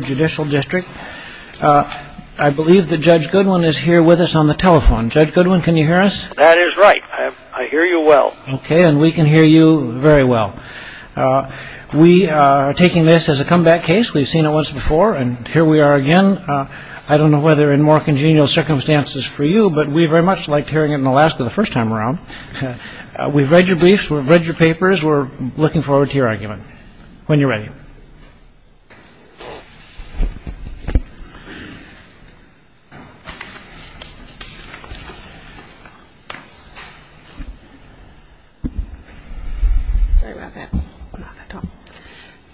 Judicial District. I believe that Judge Goodwin is here with us on the telephone. Judge Goodwin, can you hear us? That is right. I hear you well. Okay, and we can hear you very well. We are taking this as a comeback case. We've seen it once before, and here we are again. I don't know whether in more congenial circumstances for you, but we very much liked hearing it in Alaska the first time around. We've read your briefs. We've read your papers. We're looking forward to your argument when you're ready.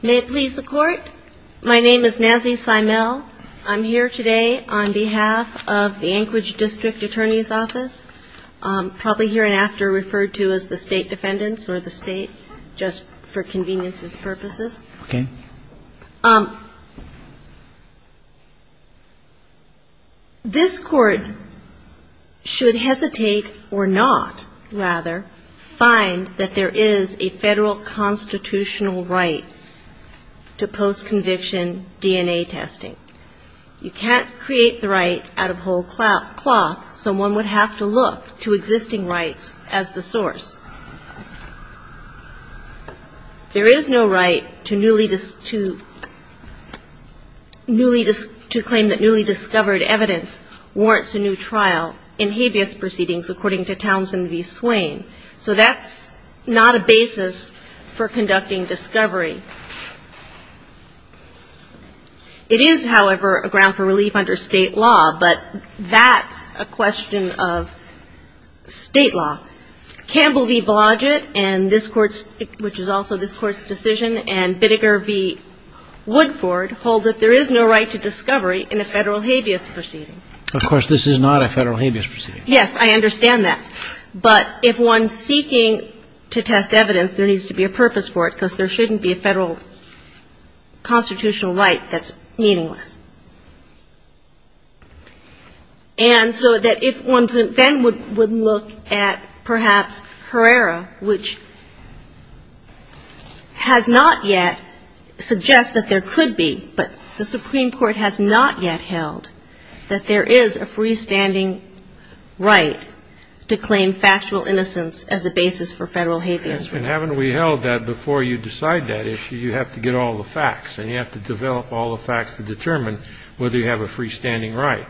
May it please the Court, my name is Nazzie Simel. I'm here today on behalf of the Anchorage District Attorney's Office, probably hereinafter referred to as the State Defendants or the State, just for conveniences purposes. This Court should hesitate or not, rather, find that there is a Federal constitutional right to post-conviction DNA testing. You can't create the right out of whole cloth. Someone would have to look to existing rights as the source. There is no right to claim that newly discovered evidence warrants a new trial in habeas proceedings, according to Townsend v. Swain. So that's not a basis for conducting discovery. It is, however, a ground for relief under State law, but that's a question of State law. Campbell v. Blodgett and this Court's, which is also this Court's decision, and Bidiger v. Woodford hold that there is no right to discovery in a Federal habeas proceeding. Of course, this is not a Federal habeas proceeding. Yes, I understand that. But if one's seeking to test evidence, there needs to be a purpose for it, because there shouldn't be a Federal constitutional right that's meaningless. And so that if one then would look at perhaps Herrera, which has not yet suggests that there could be, but the Supreme Court has not yet held that there is a freestanding right to claim factual innocence as a basis for Federal habeas proceedings. And haven't we held that before you decide that issue, you have to get all the facts and you have to develop all the facts to determine whether you have a freestanding right?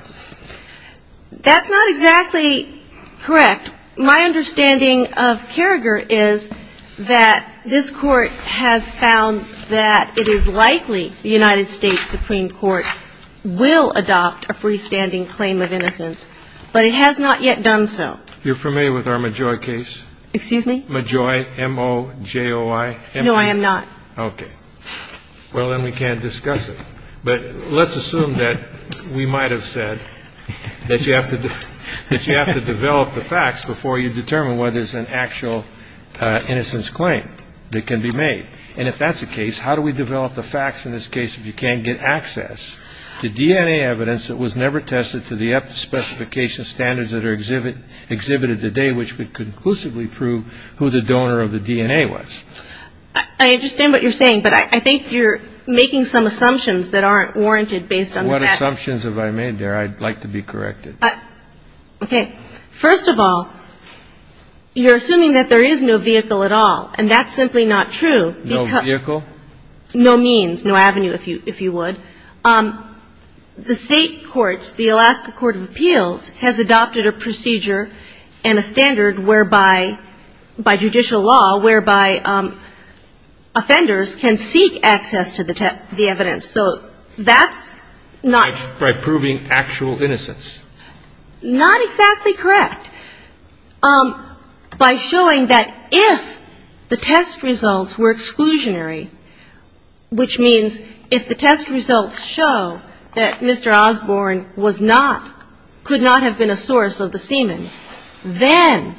That's not exactly correct. My understanding of Carragher is that this Court has found that it is likely the United States Supreme Court will adopt a freestanding claim of innocence. But it has not yet done so. You're familiar with our Majoy case? Excuse me? Majoy, M-O-J-O-Y. No, I am not. Okay. Well, then we can't discuss it. But let's assume that we might have said that you have to develop the facts before you determine whether it's an actual innocence claim that can be made. And if that's the case, how do we develop the facts in this case if you can't get access to DNA evidence that was never tested to the specification standards that are exhibited today which would conclusively prove who the donor of the DNA was? I understand what you're saying, but I think you're making some assumptions that aren't warranted based on that. What assumptions have I made there? I'd like to be corrected. Okay. First of all, you're assuming that there is no vehicle at all, and that's simply not true. No vehicle? No means. No avenue, if you would. The state courts, the Alaska Court of Appeals, has adopted a procedure and a standard whereby, by judicial law, whereby offenders can seek access to the evidence. So that's not by proving actual innocence. Not exactly correct. By showing that if the test results were exclusionary, which means if the test results show that Mr. Osborne was not, could not have been a source of the semen, then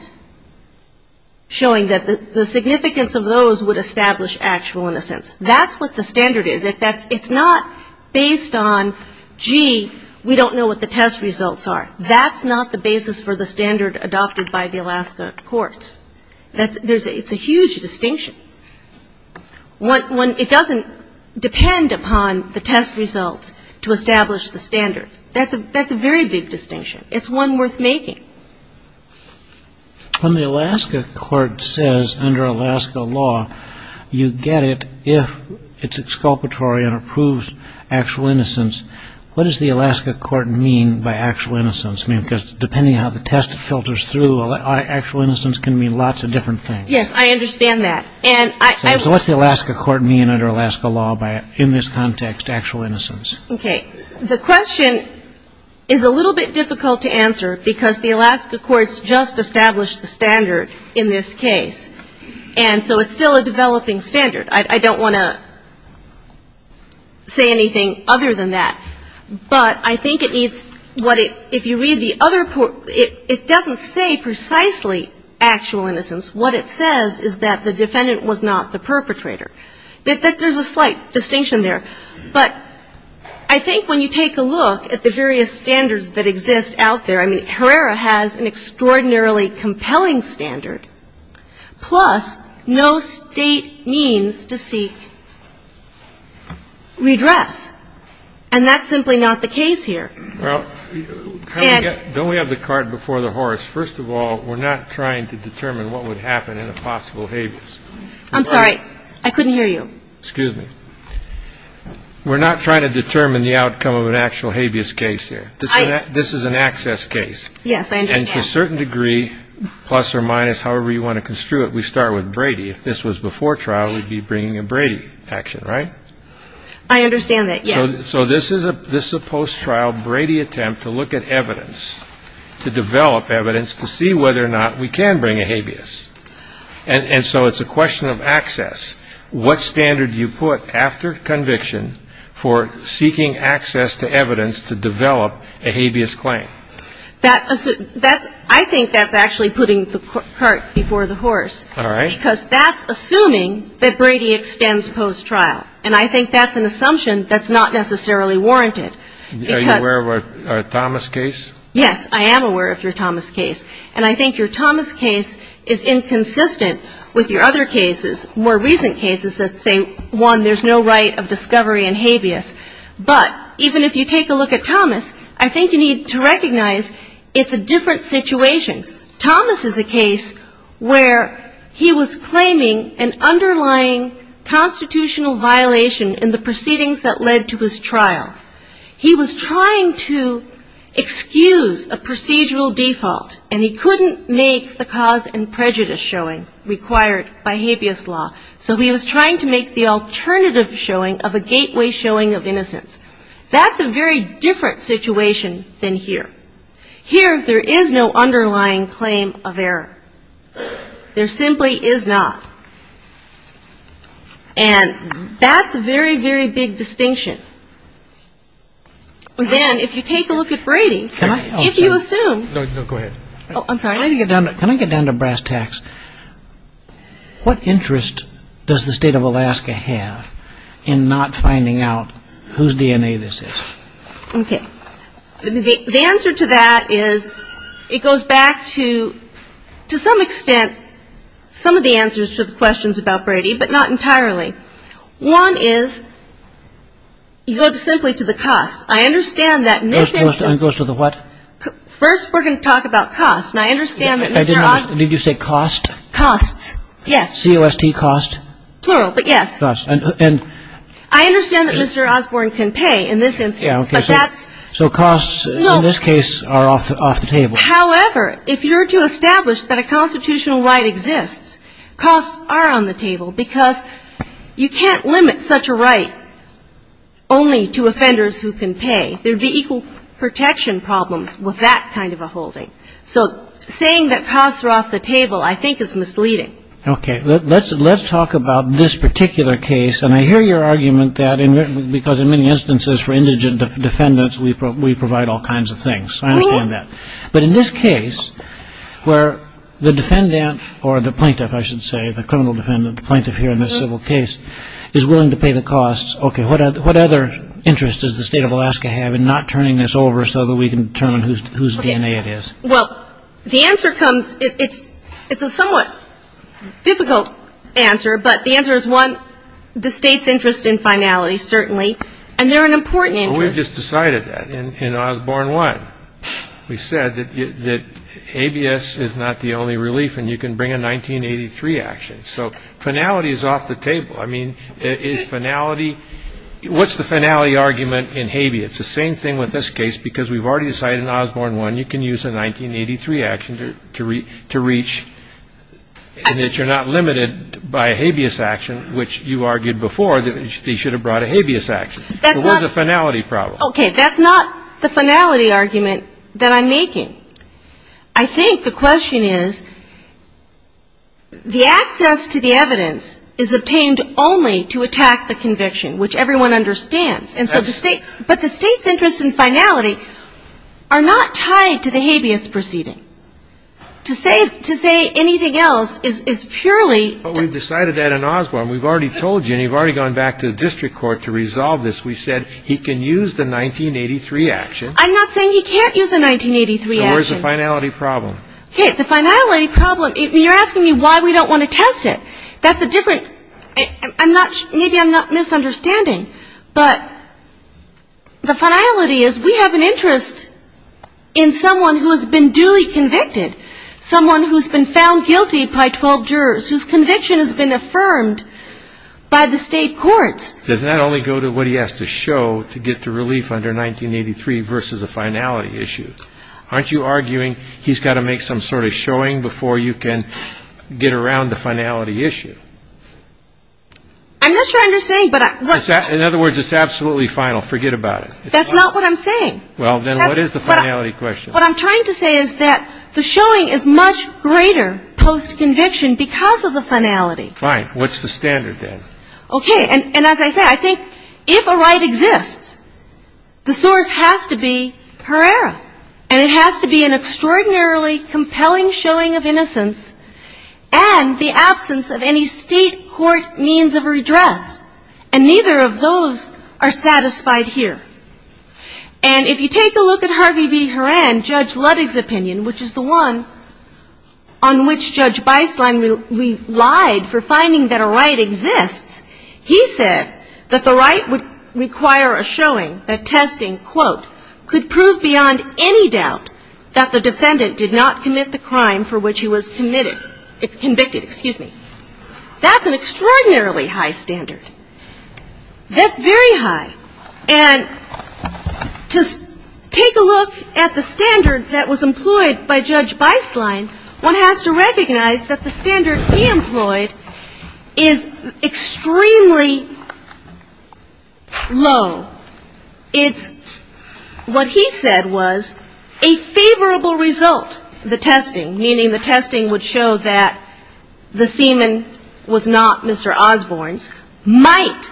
showing that the significance of those would establish actual innocence. That's what the standard is. It's not based on, gee, we don't know what the test results are. That's not the basis for the standard adopted by the Alaska courts. It's a huge distinction. It doesn't depend upon the test results to establish the standard. That's a very big distinction. It's one worth making. When the Alaska court says, under Alaska law, you get it if it's exculpatory and approves actual innocence, what does the Alaska court mean by actual innocence? Because depending on how the test filters through, actual innocence can mean lots of different things. Yes. I understand that. So what's the Alaska court mean under Alaska law in this context, actual innocence? Okay. The question is a little bit difficult to answer because the Alaska courts just established the standard in this case. And so it's still a developing standard. I don't want to say anything other than that. But I think it needs what it, if you read the other, it doesn't say precisely actual innocence. What it says is that the defendant was not the perpetrator. There's a slight distinction there. But I think when you take a look at the various standards that exist out there, I mean, Herrera has an extraordinarily compelling standard, plus no State means to seek redress. And that's simply not the case here. Well, don't we have the cart before the horse? First of all, we're not trying to determine what would happen in a possible habeas. I'm sorry. I couldn't hear you. Excuse me. We're not trying to determine the outcome of an actual habeas case here. This is an access case. Yes, I understand. And to a certain degree, plus or minus, however you want to construe it, we start with Brady. If this was before trial, we'd be bringing a Brady action, right? I understand that, yes. So this is a post-trial Brady attempt to look at evidence, to develop evidence to see whether or not we can bring a habeas. And so it's a question of access. What standard do you put after conviction for seeking access to evidence to develop a habeas claim? I think that's actually putting the cart before the horse. All right. Because that's assuming that Brady extends post-trial. And I think that's an assumption that's not necessarily warranted. Are you aware of our Thomas case? Yes, I am aware of your Thomas case. And I think your Thomas case is inconsistent with your other cases, more recent cases that say, one, there's no right of discovery in habeas. But even if you take a look at Thomas, I think you need to recognize it's a different situation. Thomas is a case where he was claiming an underlying constitutional violation in the proceedings that led to his trial. He was trying to excuse a procedural default, and he couldn't make the cause and prejudice showing required by habeas law. So he was trying to make the alternative showing of a gateway showing of innocence. That's a very different situation than here. Here, there is no underlying claim of error. There simply is not. And that's a very, very big distinction. And then if you take a look at Brady, if you assume. Go ahead. I'm sorry. Can I get down to brass tacks? What interest does the state of Alaska have in not finding out whose DNA this is? Okay. The answer to that is it goes back to, to some extent, some of the answers to the questions about Brady, but not entirely. One is you go simply to the costs. I understand that in this instance. It goes to the what? First, we're going to talk about costs. And I understand that Mr. Osborne. Did you say cost? Costs, yes. C-O-S-T, cost? Plural, but yes. I understand that Mr. Osborne can pay in this instance, but that's. So costs in this case are off the table. However, if you're to establish that a constitutional right exists, costs are on the table, because you can't limit such a right only to offenders who can pay. There would be equal protection problems with that kind of a holding. So saying that costs are off the table, I think, is misleading. Okay. Let's talk about this particular case. And I hear your argument that because in many instances for indigent defendants, we provide all kinds of things. I understand that. But in this case, where the defendant or the plaintiff, I should say, the criminal defendant, the plaintiff here in this civil case, is willing to pay the costs. Okay. What other interest does the State of Alaska have in not turning this over so that we can determine whose DNA it is? Well, the answer comes, it's a somewhat difficult answer, but the answer is, one, the State's interest in finality, certainly. And they're an important interest. We just decided that in Osborne 1. We said that ABS is not the only relief, and you can bring a 1983 action. So finality is off the table. I mean, is finality, what's the finality argument in Habeas? It's the same thing with this case because we've already decided in Osborne 1 you can use a 1983 action to reach and that you're not limited by a Habeas action, which you argued before that they should have brought a Habeas action. That's not the finality problem. Okay. That's not the finality argument that I'm making. I think the question is, the access to the evidence is obtained only to attack the conviction, which everyone understands. And so the State's, but the State's interest in finality are not tied to the Habeas proceeding. To say anything else is purely. But we've decided that in Osborne. We've already told you, and you've already gone back to the district court to resolve this. We said he can use the 1983 action. I'm not saying he can't use a 1983 action. So where's the finality problem? Okay. The finality problem, you're asking me why we don't want to test it. That's a different, I'm not, maybe I'm not misunderstanding. But the finality is we have an interest in someone who has been duly convicted. Someone who's been found guilty by 12 jurors, whose conviction has been affirmed by the State courts. Does that only go to what he has to show to get the relief under 1983 versus a finality issue? Aren't you arguing he's got to make some sort of showing before you can get around the finality issue? I'm not sure I understand. In other words, it's absolutely final. Forget about it. That's not what I'm saying. Well, then what is the finality question? What I'm trying to say is that the showing is much greater post-conviction because of the finality. Fine. What's the standard then? Okay. And as I say, I think if a right exists, the source has to be Herrera. And it has to be an extraordinarily compelling showing of innocence and the absence of any State court means of redress. And neither of those are satisfied here. And if you take a look at Harvey V. Horan, Judge Ludig's opinion, which is the one on which Judge Beisslein relied for finding that a right exists, he said that the right would require a showing that testing, quote, That's an extraordinarily high standard. That's very high. And to take a look at the standard that was employed by Judge Beisslein, one has to recognize that the standard he employed is extremely low. It's what he said was a favorable result, the testing, meaning the testing would show that the semen was not Mr. Osborne's, might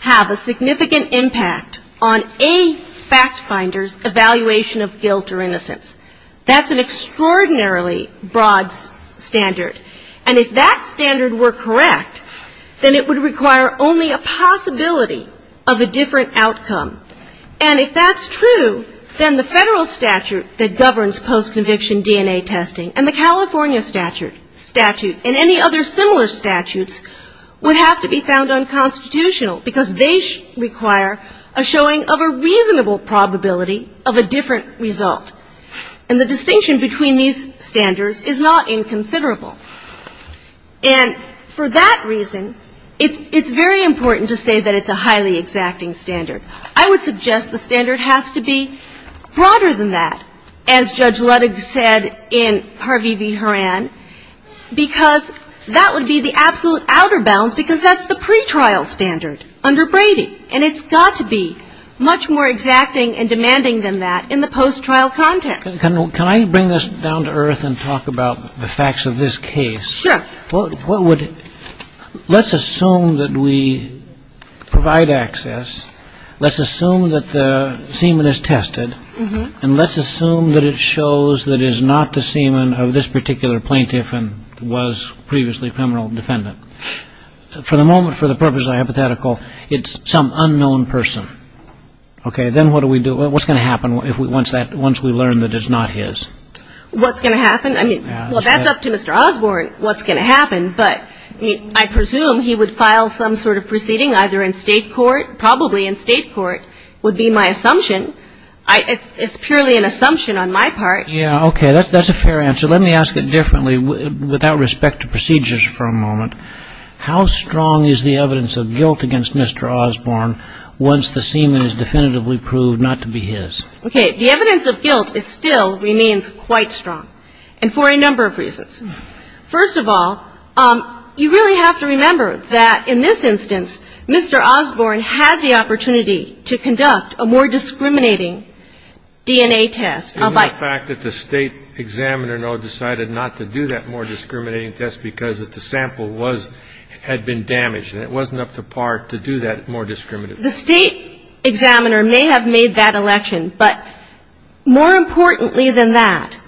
have a significant impact on a fact finder's evaluation of guilt or innocence. That's an extraordinarily broad standard. And if that standard were correct, then it would require only a possibility of a different outcome. And if that's true, then the Federal statute that governs post-conviction DNA testing and the California statute and any other similar statutes would have to be found unconstitutional, because they require a showing of a reasonable probability of a different result. And the distinction between these standards is not inconsiderable. And for that reason, it's very important to say that it's a highly exacting standard. I would suggest the standard has to be broader than that. As Judge Ludig said in Harvey v. Horan, because that would be the absolute outer bounds, because that's the pretrial standard under Brady. And it's got to be much more exacting and demanding than that in the post-trial context. Can I bring this down to earth and talk about the facts of this case? Sure. Let's assume that we provide access. Let's assume that the semen is tested. And let's assume that it shows that it is not the semen of this particular plaintiff and was previously a criminal defendant. For the moment, for the purpose of hypothetical, it's some unknown person. Okay. Then what do we do? What's going to happen once we learn that it's not his? What's going to happen? I mean, well, that's up to Mr. Osborne what's going to happen. But I presume he would file some sort of proceeding either in state court, probably in state court, would be my assumption. It's purely an assumption on my part. Yeah, okay. That's a fair answer. Let me ask it differently without respect to procedures for a moment. How strong is the evidence of guilt against Mr. Osborne once the semen is definitively proved not to be his? Okay. The evidence of guilt still remains quite strong and for a number of reasons. First of all, you really have to remember that in this instance, Mr. Osborne had the opportunity to conduct a more discriminating DNA test. Isn't the fact that the State Examiner, though, decided not to do that more discriminating test because the sample was, had been damaged and it wasn't up to par to do that more discriminative test? The State Examiner may have made that election, but more importantly than that,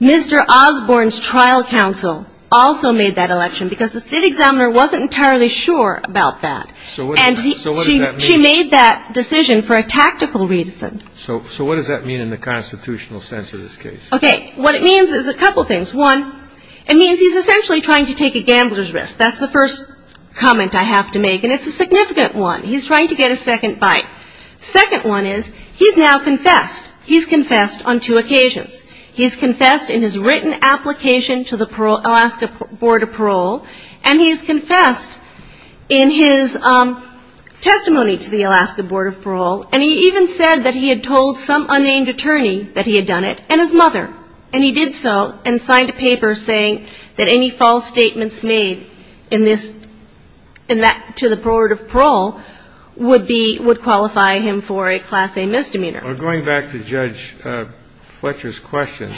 Mr. Osborne's trial counsel also made that election because the State Examiner wasn't entirely sure about that. So what does that mean? And she made that decision for a tactical reason. So what does that mean in the constitutional sense of this case? Okay. What it means is a couple things. One, it means he's essentially trying to take a gambler's risk. That's the first comment I have to make. And it's a significant one. He's trying to get a second bite. Second one is he's now confessed. He's confessed on two occasions. He's confessed in his written application to the Alaska Board of Parole, and he has confessed in his testimony to the Alaska Board of Parole, and he even said that he had told some unnamed attorney that he had done it, and his mother. And he did so and signed a paper saying that any false statements made in this to the Board of Parole would qualify him for a Class A misdemeanor. Well, going back to Judge Fletcher's question,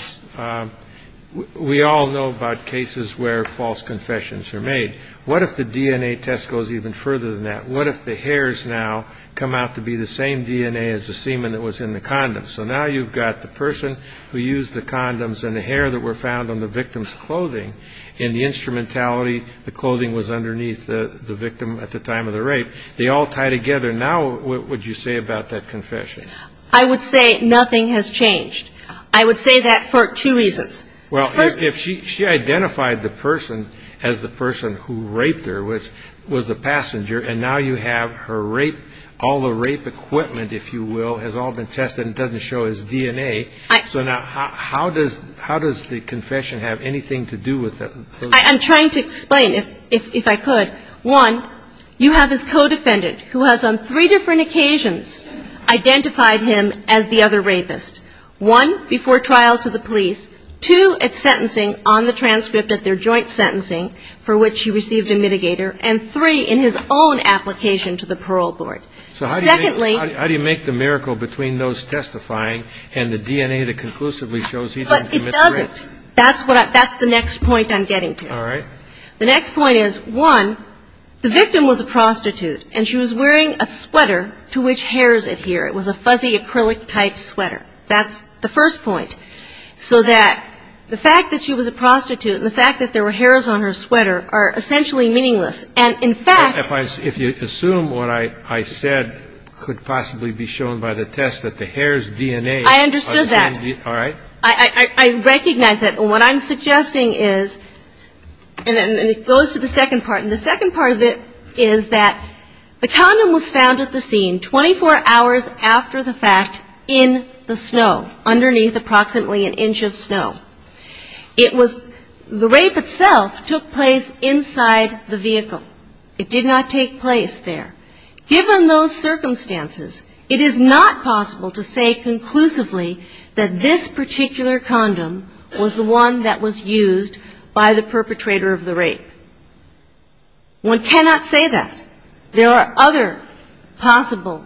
we all know about cases where false confessions are made. What if the DNA test goes even further than that? What if the hairs now come out to be the same DNA as the semen that was in the condom? So now you've got the person who used the condoms and the hair that were found on the victim's clothing and the instrumentality, the clothing was underneath the victim at the time of the rape. They all tie together. Now what would you say about that confession? I would say nothing has changed. I would say that for two reasons. Well, if she identified the person as the person who raped her, which was the passenger, and now you have her rape, all the rape equipment, if you will, has all been tested and doesn't show his DNA, so now how does the confession have anything to do with that? I'm trying to explain, if I could. One, you have his co-defendant who has on three different occasions identified him as the other rapist. One, before trial to the police. Two, at sentencing on the transcript of their joint sentencing for which he received a mitigator. And three, in his own application to the parole board. So how do you make the miracle between those testifying and the DNA that conclusively shows he didn't commit the rape? But it doesn't. That's the next point I'm getting to. All right. The next point is, one, the victim was a prostitute, and she was wearing a sweater to which hairs adhere. It was a fuzzy acrylic-type sweater. That's the first point. So that the fact that she was a prostitute and the fact that there were hairs on her sweater are essentially meaningless. If you assume what I said could possibly be shown by the test that the hairs' DNA. I understood that. All right. I recognize that. And what I'm suggesting is, and it goes to the second part, and the second part of it is that the condom was found at the scene 24 hours after the fact in the snow, underneath approximately an inch of snow. It was the rape itself took place inside the vehicle. It did not take place there. Given those circumstances, it is not possible to say conclusively that this particular condom was the one that was used by the perpetrator of the rape. One cannot say that. There are other possible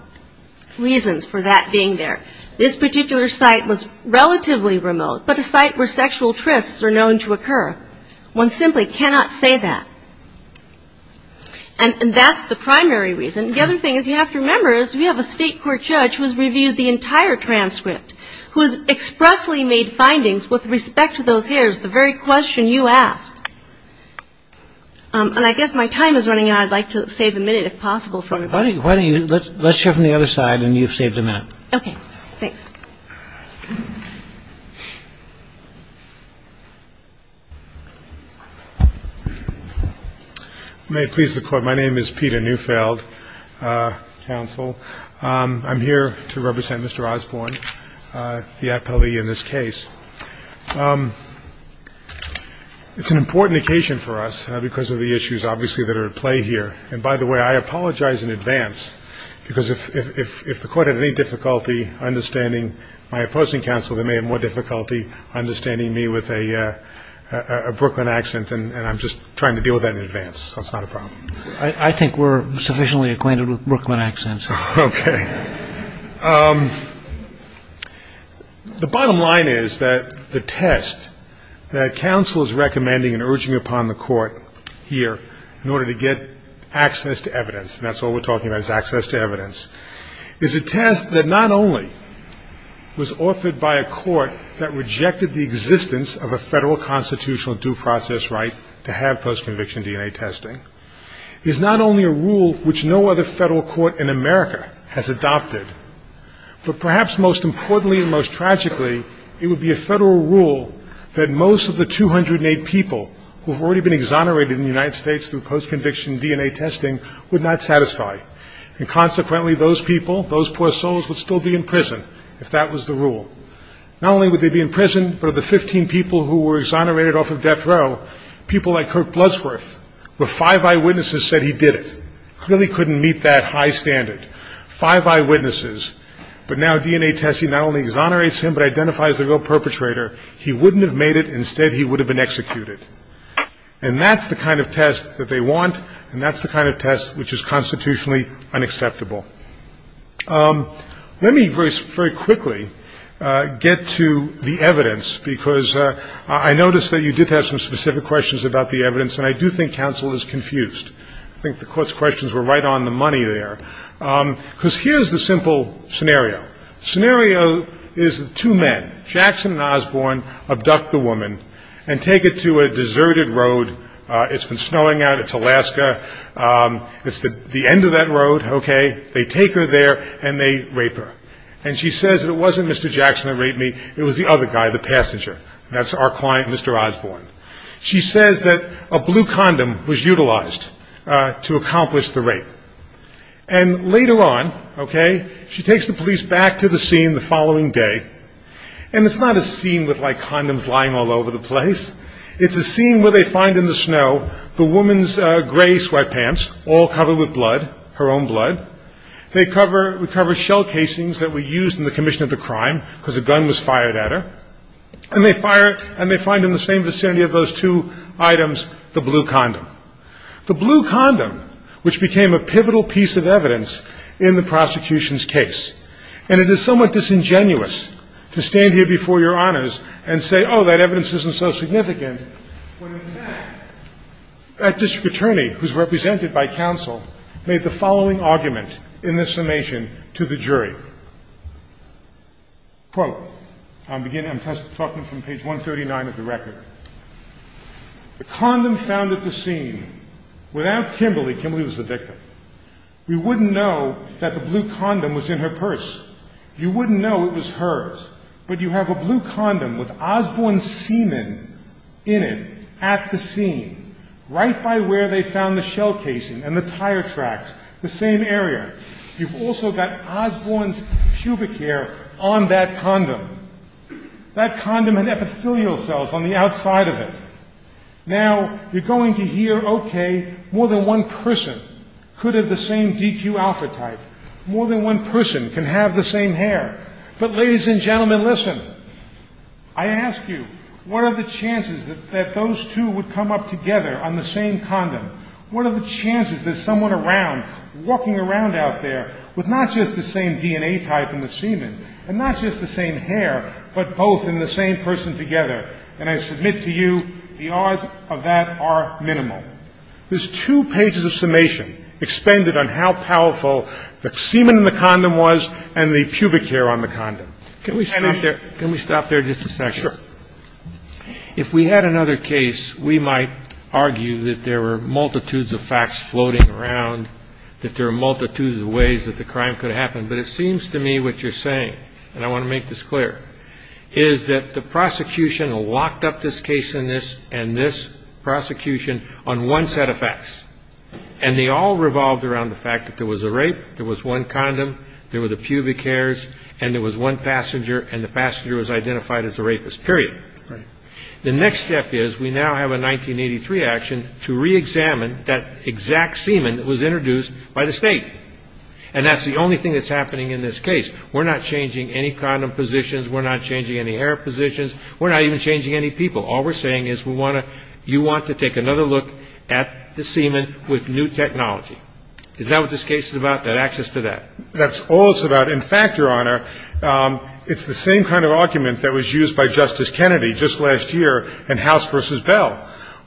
reasons for that being there. This particular site was relatively remote, but a site where sexual trysts are known to occur. One simply cannot say that. And that's the primary reason. The other thing is you have to remember is we have a state court judge who has reviewed the entire transcript, who has expressly made findings with respect to those hairs, the very question you asked. And I guess my time is running out. I'd like to save a minute if possible. Let's hear from the other side, and you've saved a minute. Okay. Thanks. May it please the Court. My name is Peter Neufeld, counsel. I'm here to represent Mr. Osborne, the appellee in this case. It's an important occasion for us because of the issues obviously that are at play here. And, by the way, I apologize in advance because if the Court had any difficulty understanding my opposing counsel, they may have more difficulty understanding me with a Brooklyn accent, and I'm just trying to deal with that in advance. So it's not a problem. I think we're sufficiently acquainted with Brooklyn accents. Okay. The bottom line is that the test that counsel is recommending and urging upon the Court here in order to get access to evidence, and that's all we're talking about is access to evidence, is a test that not only was authored by a court that rejected the existence of a federal constitutional due process right to have post-conviction DNA testing. It is not only a rule which no other federal court in America has adopted, but perhaps most importantly and most tragically, it would be a federal rule that most of the 208 people who have already been exonerated in the United States through post-conviction DNA testing would not satisfy. And, consequently, those people, those poor souls, would still be in prison if that was the rule. Not only would they be in prison, but of the 15 people who were exonerated off of death row, people like Kirk Bloodsworth, where five eyewitnesses said he did it, clearly couldn't meet that high standard, five eyewitnesses, but now DNA testing not only exonerates him but identifies the real perpetrator. He wouldn't have made it. Instead, he would have been executed. And that's the kind of test that they want, and that's the kind of test which is constitutionally unacceptable. Let me very quickly get to the evidence, because I noticed that you did have some specific questions about the evidence, and I do think counsel is confused. I think the court's questions were right on the money there. Because here's the simple scenario. Scenario is two men, Jackson and Osborne, abduct the woman and take it to a deserted road. It's been snowing out. It's Alaska. It's the end of that road. Okay? They take her there, and they rape her. And she says it wasn't Mr. Jackson that raped me. It was the other guy, the passenger. That's our client, Mr. Osborne. She says that a blue condom was utilized to accomplish the rape. And later on, okay, she takes the police back to the scene the following day, and it's not a scene with, like, condoms lying all over the place. It's a scene where they find in the snow the woman's gray sweatpants, all covered with blood, her own blood. They cover shell casings that were used in the commission of the crime because a gun was fired at her. And they fire it, and they find in the same vicinity of those two items the blue condom, the blue condom which became a pivotal piece of evidence in the prosecution's case. And it is somewhat disingenuous to stand here before Your Honors and say, oh, that evidence isn't so significant, when, in fact, that district attorney, who's represented by counsel, made the following argument in this summation to the jury. Quote. I'm talking from page 139 of the record. The condom found at the scene. Without Kimberly, Kimberly was the victim, We wouldn't know that the blue condom was in her purse. You wouldn't know it was hers. But you have a blue condom with Osborne's semen in it at the scene, right by where they found the shell casing and the tire tracks, the same area. You've also got Osborne's pubic hair on that condom. That condom had epithelial cells on the outside of it. Now, you're going to hear, okay, more than one person could have the same DQ alpha type. More than one person can have the same hair. But, ladies and gentlemen, listen. I ask you, what are the chances that those two would come up together on the same condom? What are the chances that someone around, walking around out there, with not just the same DNA type in the semen and not just the same hair, but both in the same person together? And I submit to you, the odds of that are minimal. There's two pages of summation expended on how powerful the semen in the condom was and the pubic hair on the condom. Can we stop there? Can we stop there just a second? Sure. If we had another case, we might argue that there were multitudes of facts floating around, that there were multitudes of ways that the crime could have happened. But it seems to me what you're saying, and I want to make this clear, is that the prosecution locked up this case and this prosecution on one set of facts. And they all revolved around the fact that there was a rape, there was one condom, there were the pubic hairs, and there was one passenger, and the passenger was identified as a rapist, period. The next step is we now have a 1983 action to reexamine that exact semen that was introduced by the state. And that's the only thing that's happening in this case. We're not changing any condom positions. We're not changing any hair positions. We're not even changing any people. All we're saying is you want to take another look at the semen with new technology. Is that what this case is about, that access to that? That's all it's about. In fact, Your Honor, it's the same kind of argument that was used by Justice Kennedy just last year in House v. Bell.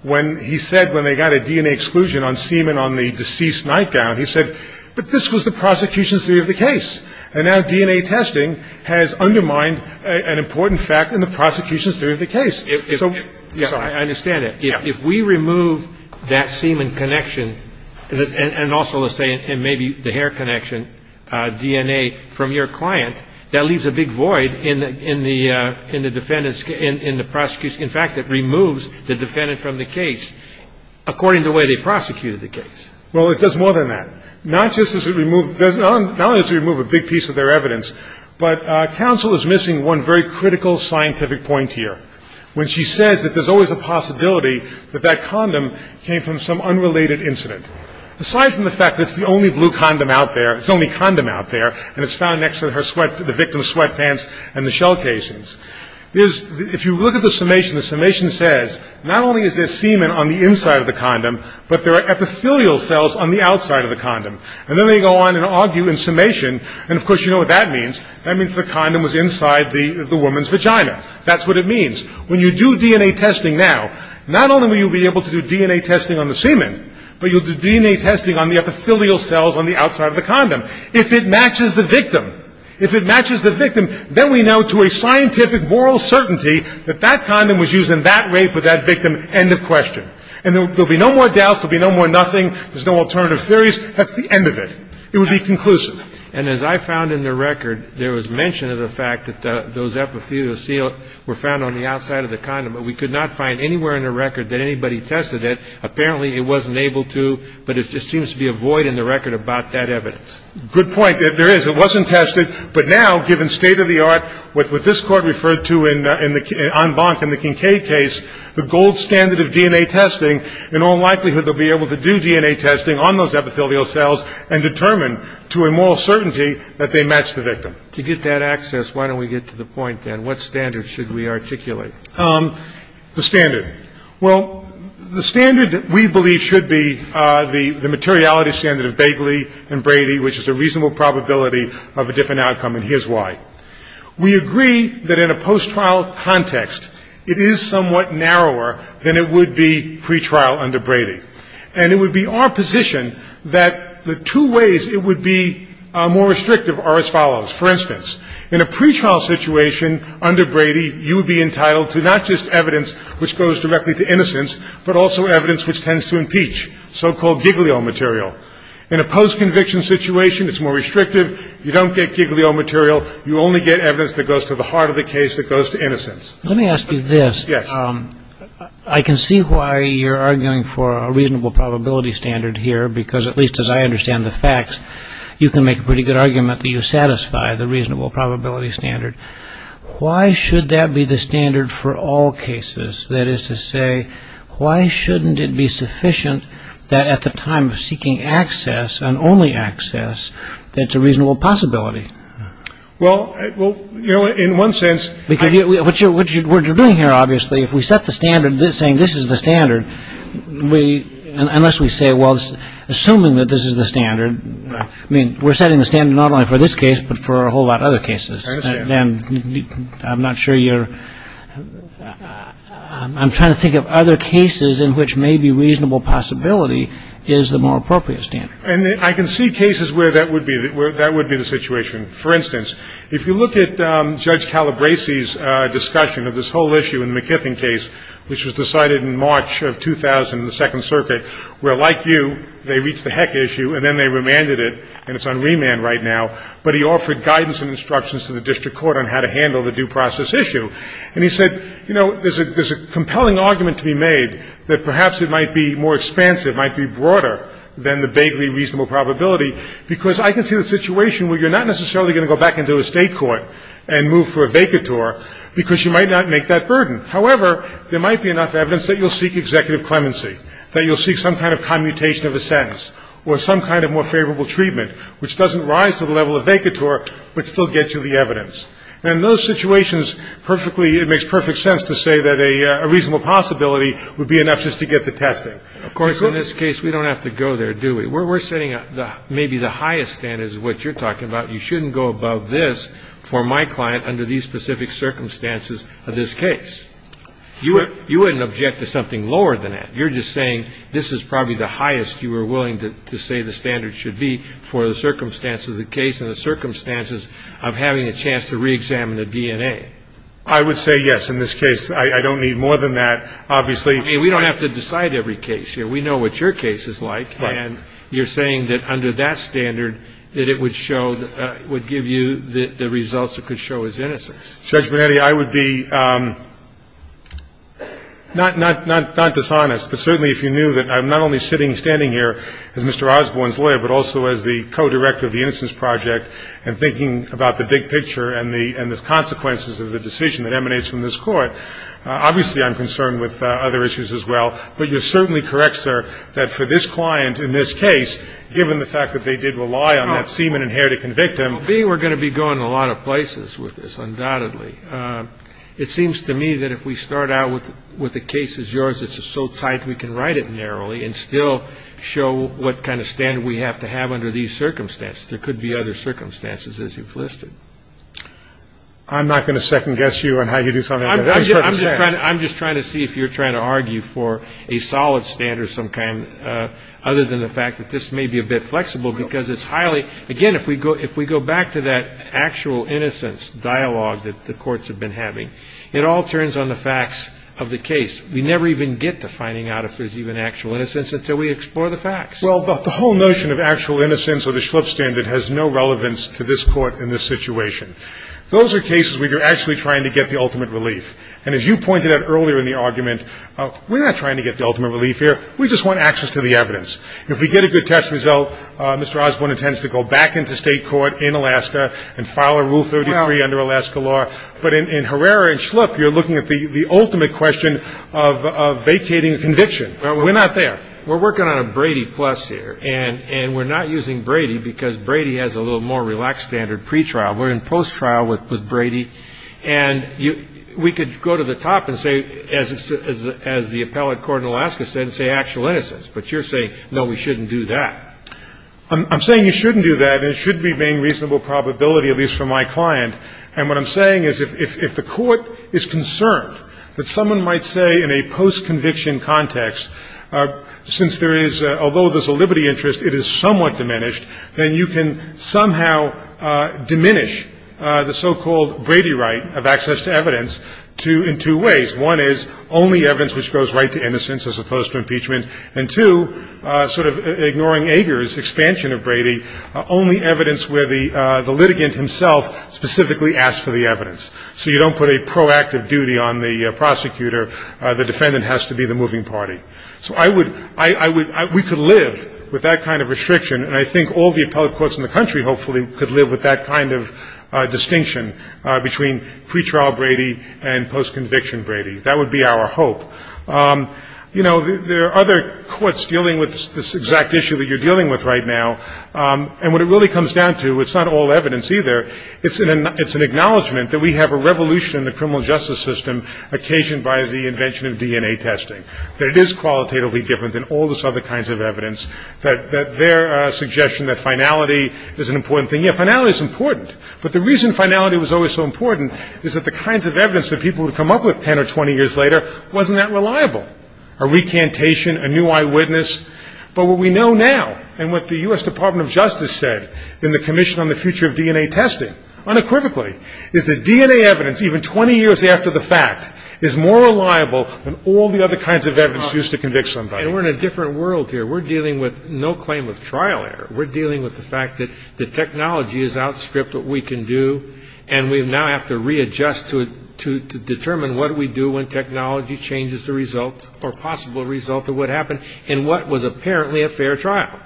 When he said when they got a DNA exclusion on semen on the deceased nightgown, he said, but this was the prosecution's theory of the case. And now DNA testing has undermined an important fact in the prosecution's theory of the case. So I understand that. If we remove that semen connection, and also let's say maybe the hair connection, DNA, from your client, that leaves a big void in the defendant's, in the prosecution. In fact, it removes the defendant from the case according to the way they prosecuted the case. Well, it does more than that. Not just does it remove, not only does it remove a big piece of their evidence, but counsel is missing one very critical scientific point here, when she says that there's always a possibility that that condom came from some unrelated incident. Aside from the fact that it's the only blue condom out there, it's the only condom out there, and it's found next to the victim's sweatpants and the shell casings. If you look at the summation, the summation says not only is there semen on the inside of the condom, but there are epithelial cells on the outside of the condom. And then they go on and argue in summation, and of course you know what that means. That means the condom was inside the woman's vagina. That's what it means. When you do DNA testing now, not only will you be able to do DNA testing on the semen, but you'll do DNA testing on the epithelial cells on the outside of the condom. If it matches the victim, if it matches the victim, then we know to a scientific moral certainty that that condom was used in that rape of that victim, end of question. And there will be no more doubts. There will be no more nothing. There's no alternative theories. That's the end of it. It would be conclusive. And as I found in the record, there was mention of the fact that those epithelial cells were found on the outside of the condom, but we could not find anywhere in the record that anybody tested it. Apparently it wasn't able to, but it just seems to be a void in the record about that evidence. Good point. There is. It wasn't tested. But now, given state of the art, what this Court referred to in the Kincaid case, the gold standard of DNA testing, in all likelihood they'll be able to do DNA testing on those epithelial cells and determine to a moral certainty that they match the victim. To get that access, why don't we get to the point, then? What standard should we articulate? The standard. Well, the standard we believe should be the materiality standard of Bagley and Brady, which is a reasonable probability of a different outcome, and here's why. We agree that in a post-trial context, it is somewhat narrower than it would be pretrial under Brady, and it would be our position that the two ways it would be more restrictive are as follows. For instance, in a pretrial situation under Brady, you would be entitled to not just evidence which goes directly to innocence, but also evidence which tends to impeach, so-called giglio material. In a post-conviction situation, it's more restrictive. You don't get giglio material. You only get evidence that goes to the heart of the case, that goes to innocence. Let me ask you this. Yes. I can see why you're arguing for a reasonable probability standard here, because at least as I understand the facts, you can make a pretty good argument that you satisfy the reasonable probability standard. Why should that be the standard for all cases? That is to say, why shouldn't it be sufficient that at the time of seeking access, and only access, that it's a reasonable possibility? Well, you know, in one sense- What you're doing here, obviously, if we set the standard saying this is the standard, unless we say, well, assuming that this is the standard, I mean, we're setting the standard not only for this case, but for a whole lot of other cases. I'm not sure you're-I'm trying to think of other cases in which maybe reasonable possibility is the more appropriate standard. And I can see cases where that would be the situation. For instance, if you look at Judge Calabresi's discussion of this whole issue in the McKithing case, which was decided in March of 2000 in the Second Circuit, where, like you, they reached the heck issue, and then they remanded it, and it's on remand right now, but he offered guidance and instructions to the district court on how to handle the due process issue. And he said, you know, there's a compelling argument to be made that perhaps it might be more expansive, it might be broader than the vaguely reasonable probability, because I can see the situation where you're not necessarily going to go back into a state court and move for a vacatur because you might not make that burden. However, there might be enough evidence that you'll seek executive clemency, that you'll seek some kind of commutation of a sentence or some kind of more favorable treatment, which doesn't rise to the level of vacatur, but still gets you the evidence. And in those situations, perfectly, it makes perfect sense to say that a reasonable possibility would be enough just to get the testing. Of course, in this case, we don't have to go there, do we? We're setting maybe the highest standards of what you're talking about. You shouldn't go above this for my client under these specific circumstances of this case. You wouldn't object to something lower than that. You're just saying this is probably the highest you were willing to say the standards should be for the circumstances of the case and the circumstances of having a chance to reexamine the DNA. I would say yes in this case. I don't need more than that, obviously. I mean, we don't have to decide every case here. We know what your case is like. Right. And you're saying that under that standard, that it would show, would give you the results it could show as innocence. Judge Bonetti, I would be not dishonest, but certainly if you knew that I'm not only sitting, standing here as Mr. Osborne's lawyer, but also as the co-director of the Innocence Project and thinking about the big picture and the consequences of the decision that emanates from this Court, obviously I'm concerned with other issues as well. But you're certainly correct, sir, that for this client in this case, given the fact that they did rely on that semen and hair to convict him. Well, B, we're going to be going a lot of places with this, undoubtedly. It seems to me that if we start out with the case as yours, it's so tight we can write it narrowly and still show what kind of standard we have to have under these circumstances. There could be other circumstances, as you've listed. I'm not going to second-guess you on how you do something like that. I'm just trying to see if you're trying to argue for a solid standard of some kind, other than the fact that this may be a bit flexible, because it's highly, again, if we go back to that actual innocence dialogue that the courts have been having, it all turns on the facts of the case. We never even get to finding out if there's even actual innocence until we explore the facts. Well, but the whole notion of actual innocence or the Schlupf standard has no relevance to this court in this situation. Those are cases where you're actually trying to get the ultimate relief. And as you pointed out earlier in the argument, we're not trying to get the ultimate relief here. We just want access to the evidence. If we get a good test result, Mr. Osborne intends to go back into state court in Alaska and file a Rule 33 under Alaska law. But in Herrera and Schlupf, you're looking at the ultimate question of vacating a conviction. We're not there. We're working on a Brady plus here. And we're not using Brady because Brady has a little more relaxed standard pretrial. We're in post-trial with Brady. And we could go to the top and say, as the appellate court in Alaska said, and say actual innocence. But you're saying, no, we shouldn't do that. I'm saying you shouldn't do that, and it should remain reasonable probability, at least for my client. And what I'm saying is if the court is concerned that someone might say in a post-conviction context, since there is, although there's a liberty interest, it is somewhat diminished, then you can somehow diminish the so-called Brady right of access to evidence in two ways. One is only evidence which goes right to innocence as opposed to impeachment. And, two, sort of ignoring Ager's expansion of Brady, only evidence where the litigant himself specifically asks for the evidence. So you don't put a proactive duty on the prosecutor. The defendant has to be the moving party. So we could live with that kind of restriction, and I think all the appellate courts in the country hopefully could live with that kind of distinction between pretrial Brady and post-conviction Brady. That would be our hope. You know, there are other courts dealing with this exact issue that you're dealing with right now. And what it really comes down to, it's not all evidence either. It's an acknowledgment that we have a revolution in the criminal justice system occasioned by the invention of DNA testing, that it is qualitatively different than all those other kinds of evidence, that their suggestion that finality is an important thing. Yeah, finality is important. But the reason finality was always so important is that the kinds of evidence that people would come up with 10 or 20 years later wasn't that reliable, a recantation, a new eyewitness. But what we know now and what the U.S. Department of Justice said in the Commission on the Future of DNA Testing unequivocally is that DNA evidence, even 20 years after the fact, is more reliable than all the other kinds of evidence used to convict somebody. And we're in a different world here. We're dealing with no claim of trial error. We're dealing with the fact that the technology has outstripped what we can do, and we now have to readjust to determine what do we do when technology changes the result or possible result of what happened in what was apparently a fair trial.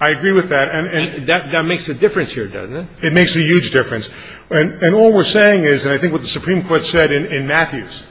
I agree with that. And that makes a difference here, doesn't it? It makes a huge difference. And all we're saying is, and I think what the Supreme Court said in Matthews,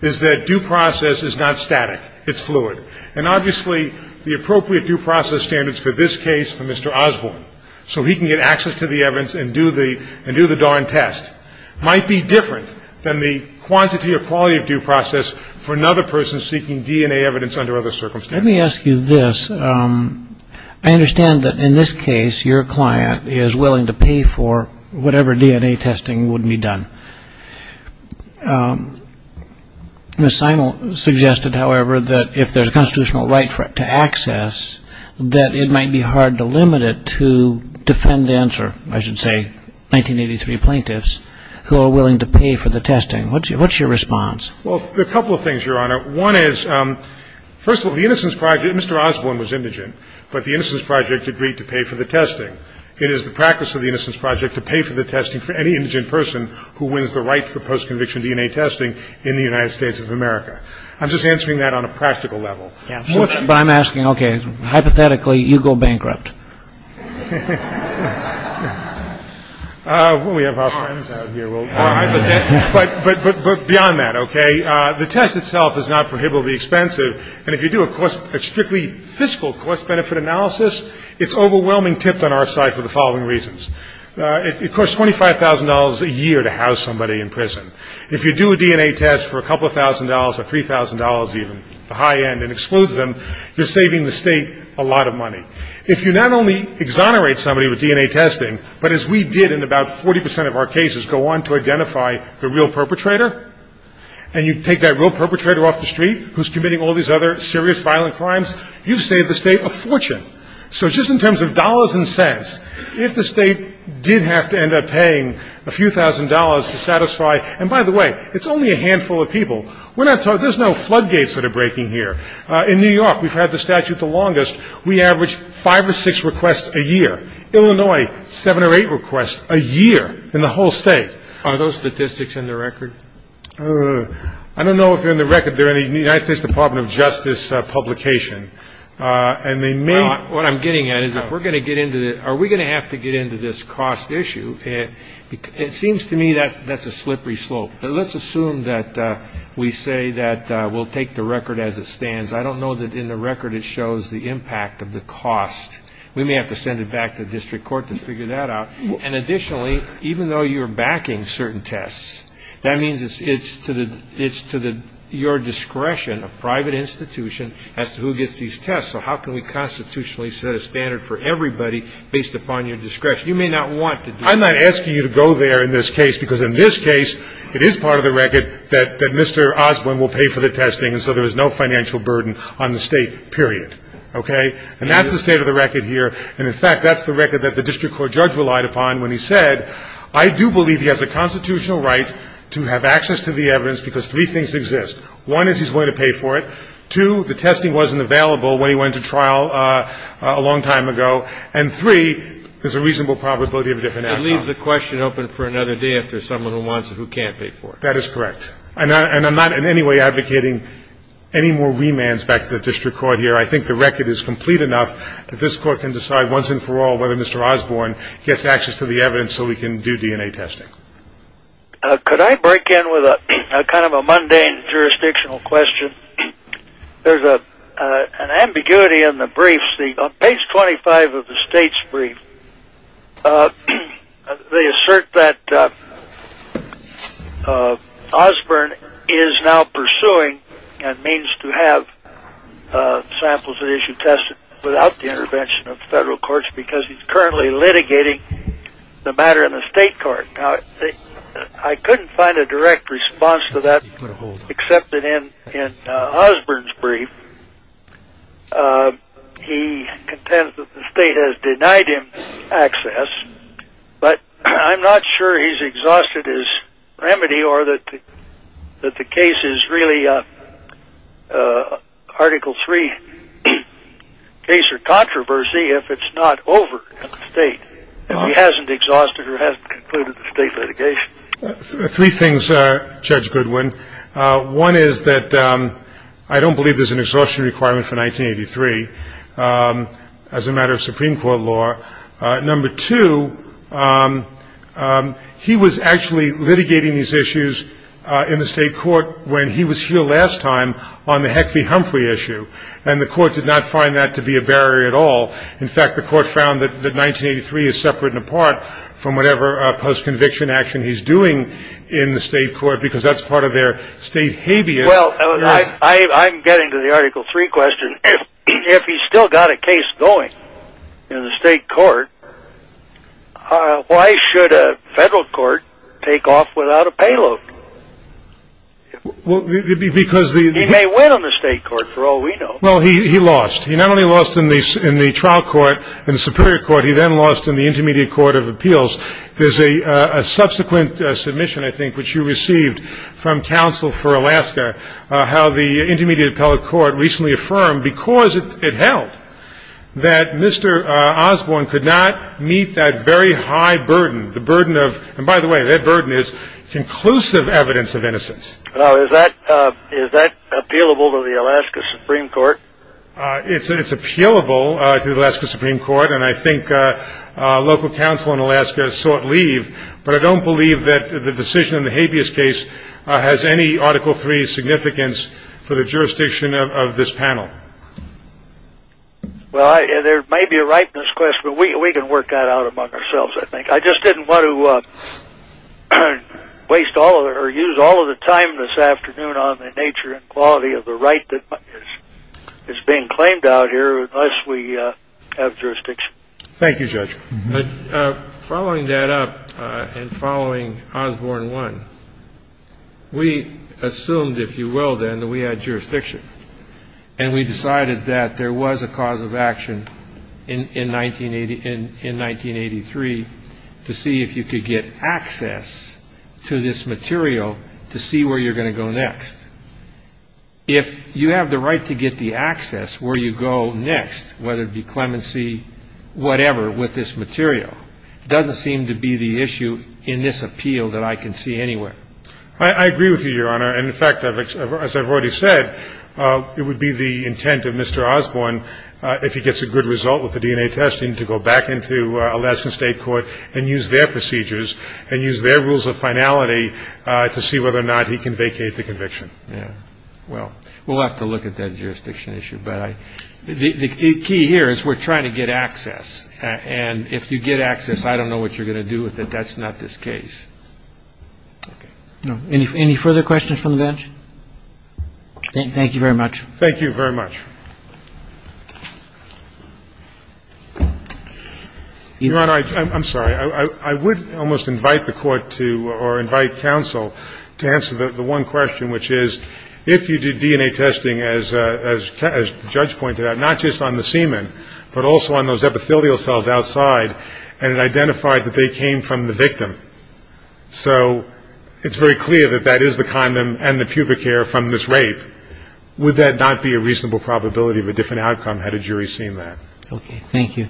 is that due process is not static. It's fluid. And obviously the appropriate due process standards for this case, for Mr. Osborne, so he can get access to the evidence and do the darn test, might be different than the quantity or quality of due process for another person seeking DNA evidence under other circumstances. Let me ask you this. I understand that in this case your client is willing to pay for whatever DNA testing would be done. Ms. Simel suggested, however, that if there's a constitutional right to access, that it might be hard to limit it to defend answer, I should say, 1983 plaintiffs, who are willing to pay for the testing. What's your response? Well, a couple of things, Your Honor. One is, first of all, the Innocence Project, Mr. Osborne was indigent, but the Innocence Project agreed to pay for the testing. It is the practice of the Innocence Project to pay for the testing for any indigent person who wins the right for post-conviction DNA testing in the United States of America. I'm just answering that on a practical level. But I'm asking, okay, hypothetically, you go bankrupt. Well, we have our friends out here. But beyond that, okay, the test itself is not prohibitively expensive, and if you do a strictly fiscal cost-benefit analysis, it's overwhelmingly tipped on our side for the following reasons. It costs $25,000 a year to house somebody in prison. If you do a DNA test for a couple of thousand dollars or $3,000 even, the high end, and it excludes them, you're saving the state a lot of money. If you not only exonerate somebody with DNA testing, but as we did in about 40% of our cases, go on to identify the real perpetrator, and you take that real perpetrator off the street who's committing all these other serious violent crimes, you've saved the state a fortune. So just in terms of dollars and cents, if the state did have to end up paying a few thousand dollars to satisfy, and by the way, it's only a handful of people. There's no floodgates that are breaking here. In New York, we've had the statute the longest. We average five or six requests a year. Illinois, seven or eight requests a year in the whole state. Are those statistics in the record? I don't know if they're in the record. They're in the United States Department of Justice publication, and they may be. What I'm getting at is if we're going to get into the – are we going to have to get into this cost issue? It seems to me that's a slippery slope. Let's assume that we say that we'll take the record as it stands. I don't know that in the record it shows the impact of the cost. We may have to send it back to the district court to figure that out. And additionally, even though you're backing certain tests, that means it's to your discretion, a private institution, as to who gets these tests. So how can we constitutionally set a standard for everybody based upon your discretion? You may not want to do that. I'm not asking you to go there in this case because in this case it is part of the record that Mr. Osborne will pay for the testing and so there is no financial burden on the state, period. Okay? And that's the state of the record here. And in fact, that's the record that the district court judge relied upon when he said, I do believe he has a constitutional right to have access to the evidence because three things exist. One is he's willing to pay for it. Two, the testing wasn't available when he went to trial a long time ago. And three, there's a reasonable probability of a different outcome. It leaves the question open for another day if there's someone who wants it who can't pay for it. That is correct. And I'm not in any way advocating any more remands back to the district court here. I think the record is complete enough that this court can decide once and for all whether Mr. Osborne gets access to the evidence so we can do DNA testing. Could I break in with kind of a mundane jurisdictional question? There's an ambiguity in the briefs. On page 25 of the state's brief, they assert that Osborne is now pursuing and means to have samples of the issue tested without the intervention of federal courts because he's currently litigating the matter in the state court. I couldn't find a direct response to that except that in Osborne's brief, he contends that the state has denied him access, but I'm not sure he's exhausted his remedy or that the case is really Article 3 case or controversy if it's not over at the state. He hasn't exhausted or hasn't concluded the state litigation. Three things, Judge Goodwin. One is that I don't believe there's an exhaustion requirement for 1983 as a matter of Supreme Court law. Number two, he was actually litigating these issues in the state court when he was here last time on the Heckley-Humphrey issue, and the court did not find that to be a barrier at all. In fact, the court found that 1983 is separate and apart from whatever post-conviction action he's doing in the state court because that's part of their state habeas. Well, I'm getting to the Article 3 question. If he's still got a case going in the state court, why should a federal court take off without a payload? He may win on the state court for all we know. Well, he lost. He not only lost in the trial court, in the Superior Court. He then lost in the Intermediate Court of Appeals. There's a subsequent submission, I think, which you received from Counsel for Alaska, how the Intermediate Appellate Court recently affirmed, because it held, that Mr. Osborne could not meet that very high burden, the burden of, and by the way, that burden is conclusive evidence of innocence. Now, is that appealable to the Alaska Supreme Court? It's appealable to the Alaska Supreme Court, and I think local counsel in Alaska has sought leave, but I don't believe that the decision in the habeas case has any Article 3 significance for the jurisdiction of this panel. Well, there may be a right in this question, but we can work that out among ourselves, I think. I didn't want to waste all or use all of the time this afternoon on the nature and quality of the right that is being claimed out here unless we have jurisdiction. Thank you, Judge. Following that up and following Osborne 1, we assumed, if you will, then, that we had jurisdiction, and we decided that there was a cause of action in 1983 to see if you could get access to this material to see where you're going to go next. If you have the right to get the access where you go next, whether it be clemency, whatever, with this material, it doesn't seem to be the issue in this appeal that I can see anywhere. I agree with you, Your Honor. And, in fact, as I've already said, it would be the intent of Mr. Osborne, if he gets a good result with the DNA testing, to go back into Alaskan state court and use their procedures and use their rules of finality to see whether or not he can vacate the conviction. Yeah. Well, we'll have to look at that jurisdiction issue. But the key here is we're trying to get access, and if you get access, I don't know what you're going to do with it. That's not this case. Any further questions from the bench? Thank you very much. Thank you very much. Your Honor, I'm sorry. I would almost invite the court to or invite counsel to answer the one question, which is if you do DNA testing, as the judge pointed out, not just on the semen, but also on those epithelial cells outside, and it identified that they came from the victim. So it's very clear that that is the condom and the pubic hair from this rape. Would that not be a reasonable probability of a different outcome had a jury seen that? Okay. Thank you.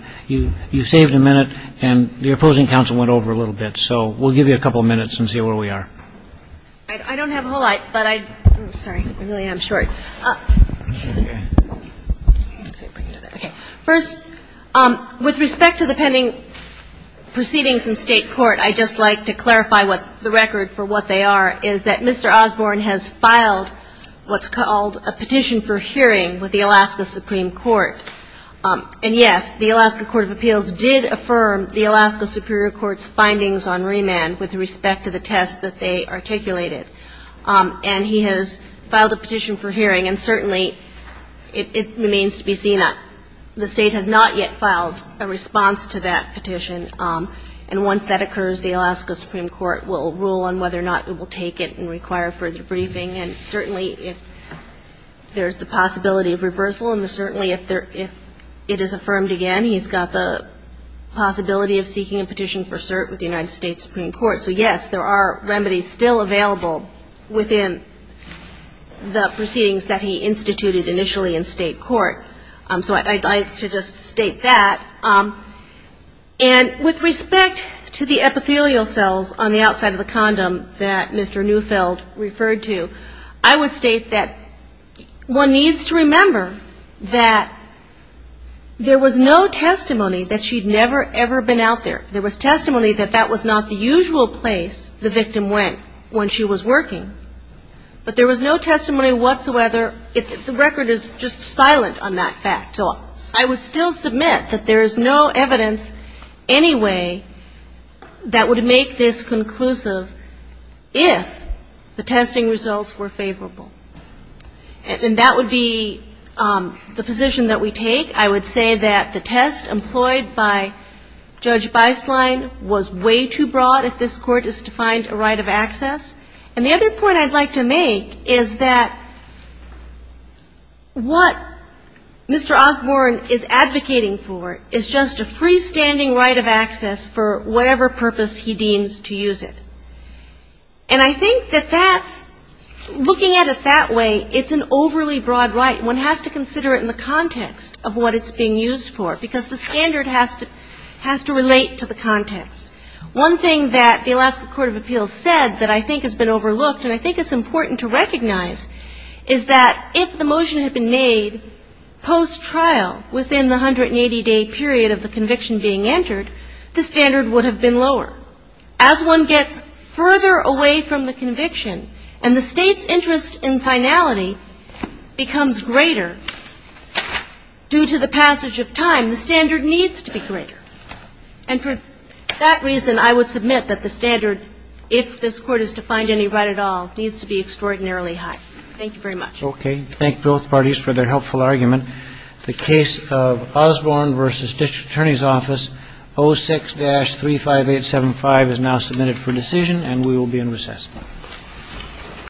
You saved a minute, and the opposing counsel went over a little bit. So we'll give you a couple of minutes and see where we are. I don't have a whole lot, but I'm sorry, I really am short. First, with respect to the pending proceedings in State court, I'd just like to clarify what the record for what they are is that Mr. Osborne has filed what's called a petition for hearing with the Alaska Supreme Court. And, yes, the Alaska Court of Appeals did affirm the Alaska Superior Court's findings on remand with respect to the test that they articulated. And he has filed a petition for hearing, and certainly it remains to be seen. The State has not yet filed a response to that petition. And once that occurs, the Alaska Supreme Court will rule on whether or not it will take it and require further briefing. And certainly if there's the possibility of reversal, and certainly if it is affirmed again, he's got the possibility of seeking a petition for cert with the United States Supreme Court. So, yes, there are remedies still available within the proceedings that he instituted initially in State court. So I'd like to just state that. And with respect to the epithelial cells on the outside of the condom that Mr. Neufeld referred to, I would state that one needs to remember that there was no testimony that she'd never, ever been out there. There was testimony that that was not the usual place the victim went when she was working. But there was no testimony whatsoever. The record is just silent on that fact. So I would still submit that there is no evidence anyway that would make this conclusive if the testing results were favorable. And that would be the position that we take. I would say that the test employed by Judge Beislein was way too broad if this Court is to find a right of access. And the other point I'd like to make is that what Mr. Osborne is advocating for is just a freestanding right of access for whatever purpose he deems to use it. And I think that that's, looking at it that way, it's an overly broad right. One has to consider it in the context of what it's being used for, because the standard has to relate to the context. One thing that the Alaska Court of Appeals said that I think has been overlooked, and I think it's important to recognize, is that if the motion had been made post-trial, within the 180-day period of the conviction being entered, the standard would have been lower. As one gets further away from the conviction and the State's interest in finality becomes greater due to the passage of time, the standard needs to be greater. And for that reason, I would submit that the standard, if this Court is to find any right at all, needs to be extraordinarily high. Thank you very much. Okay. Thank both parties for their helpful argument. The case of Osborne v. District Attorney's Office 06-35875 is now submitted for decision, and we will be in recess.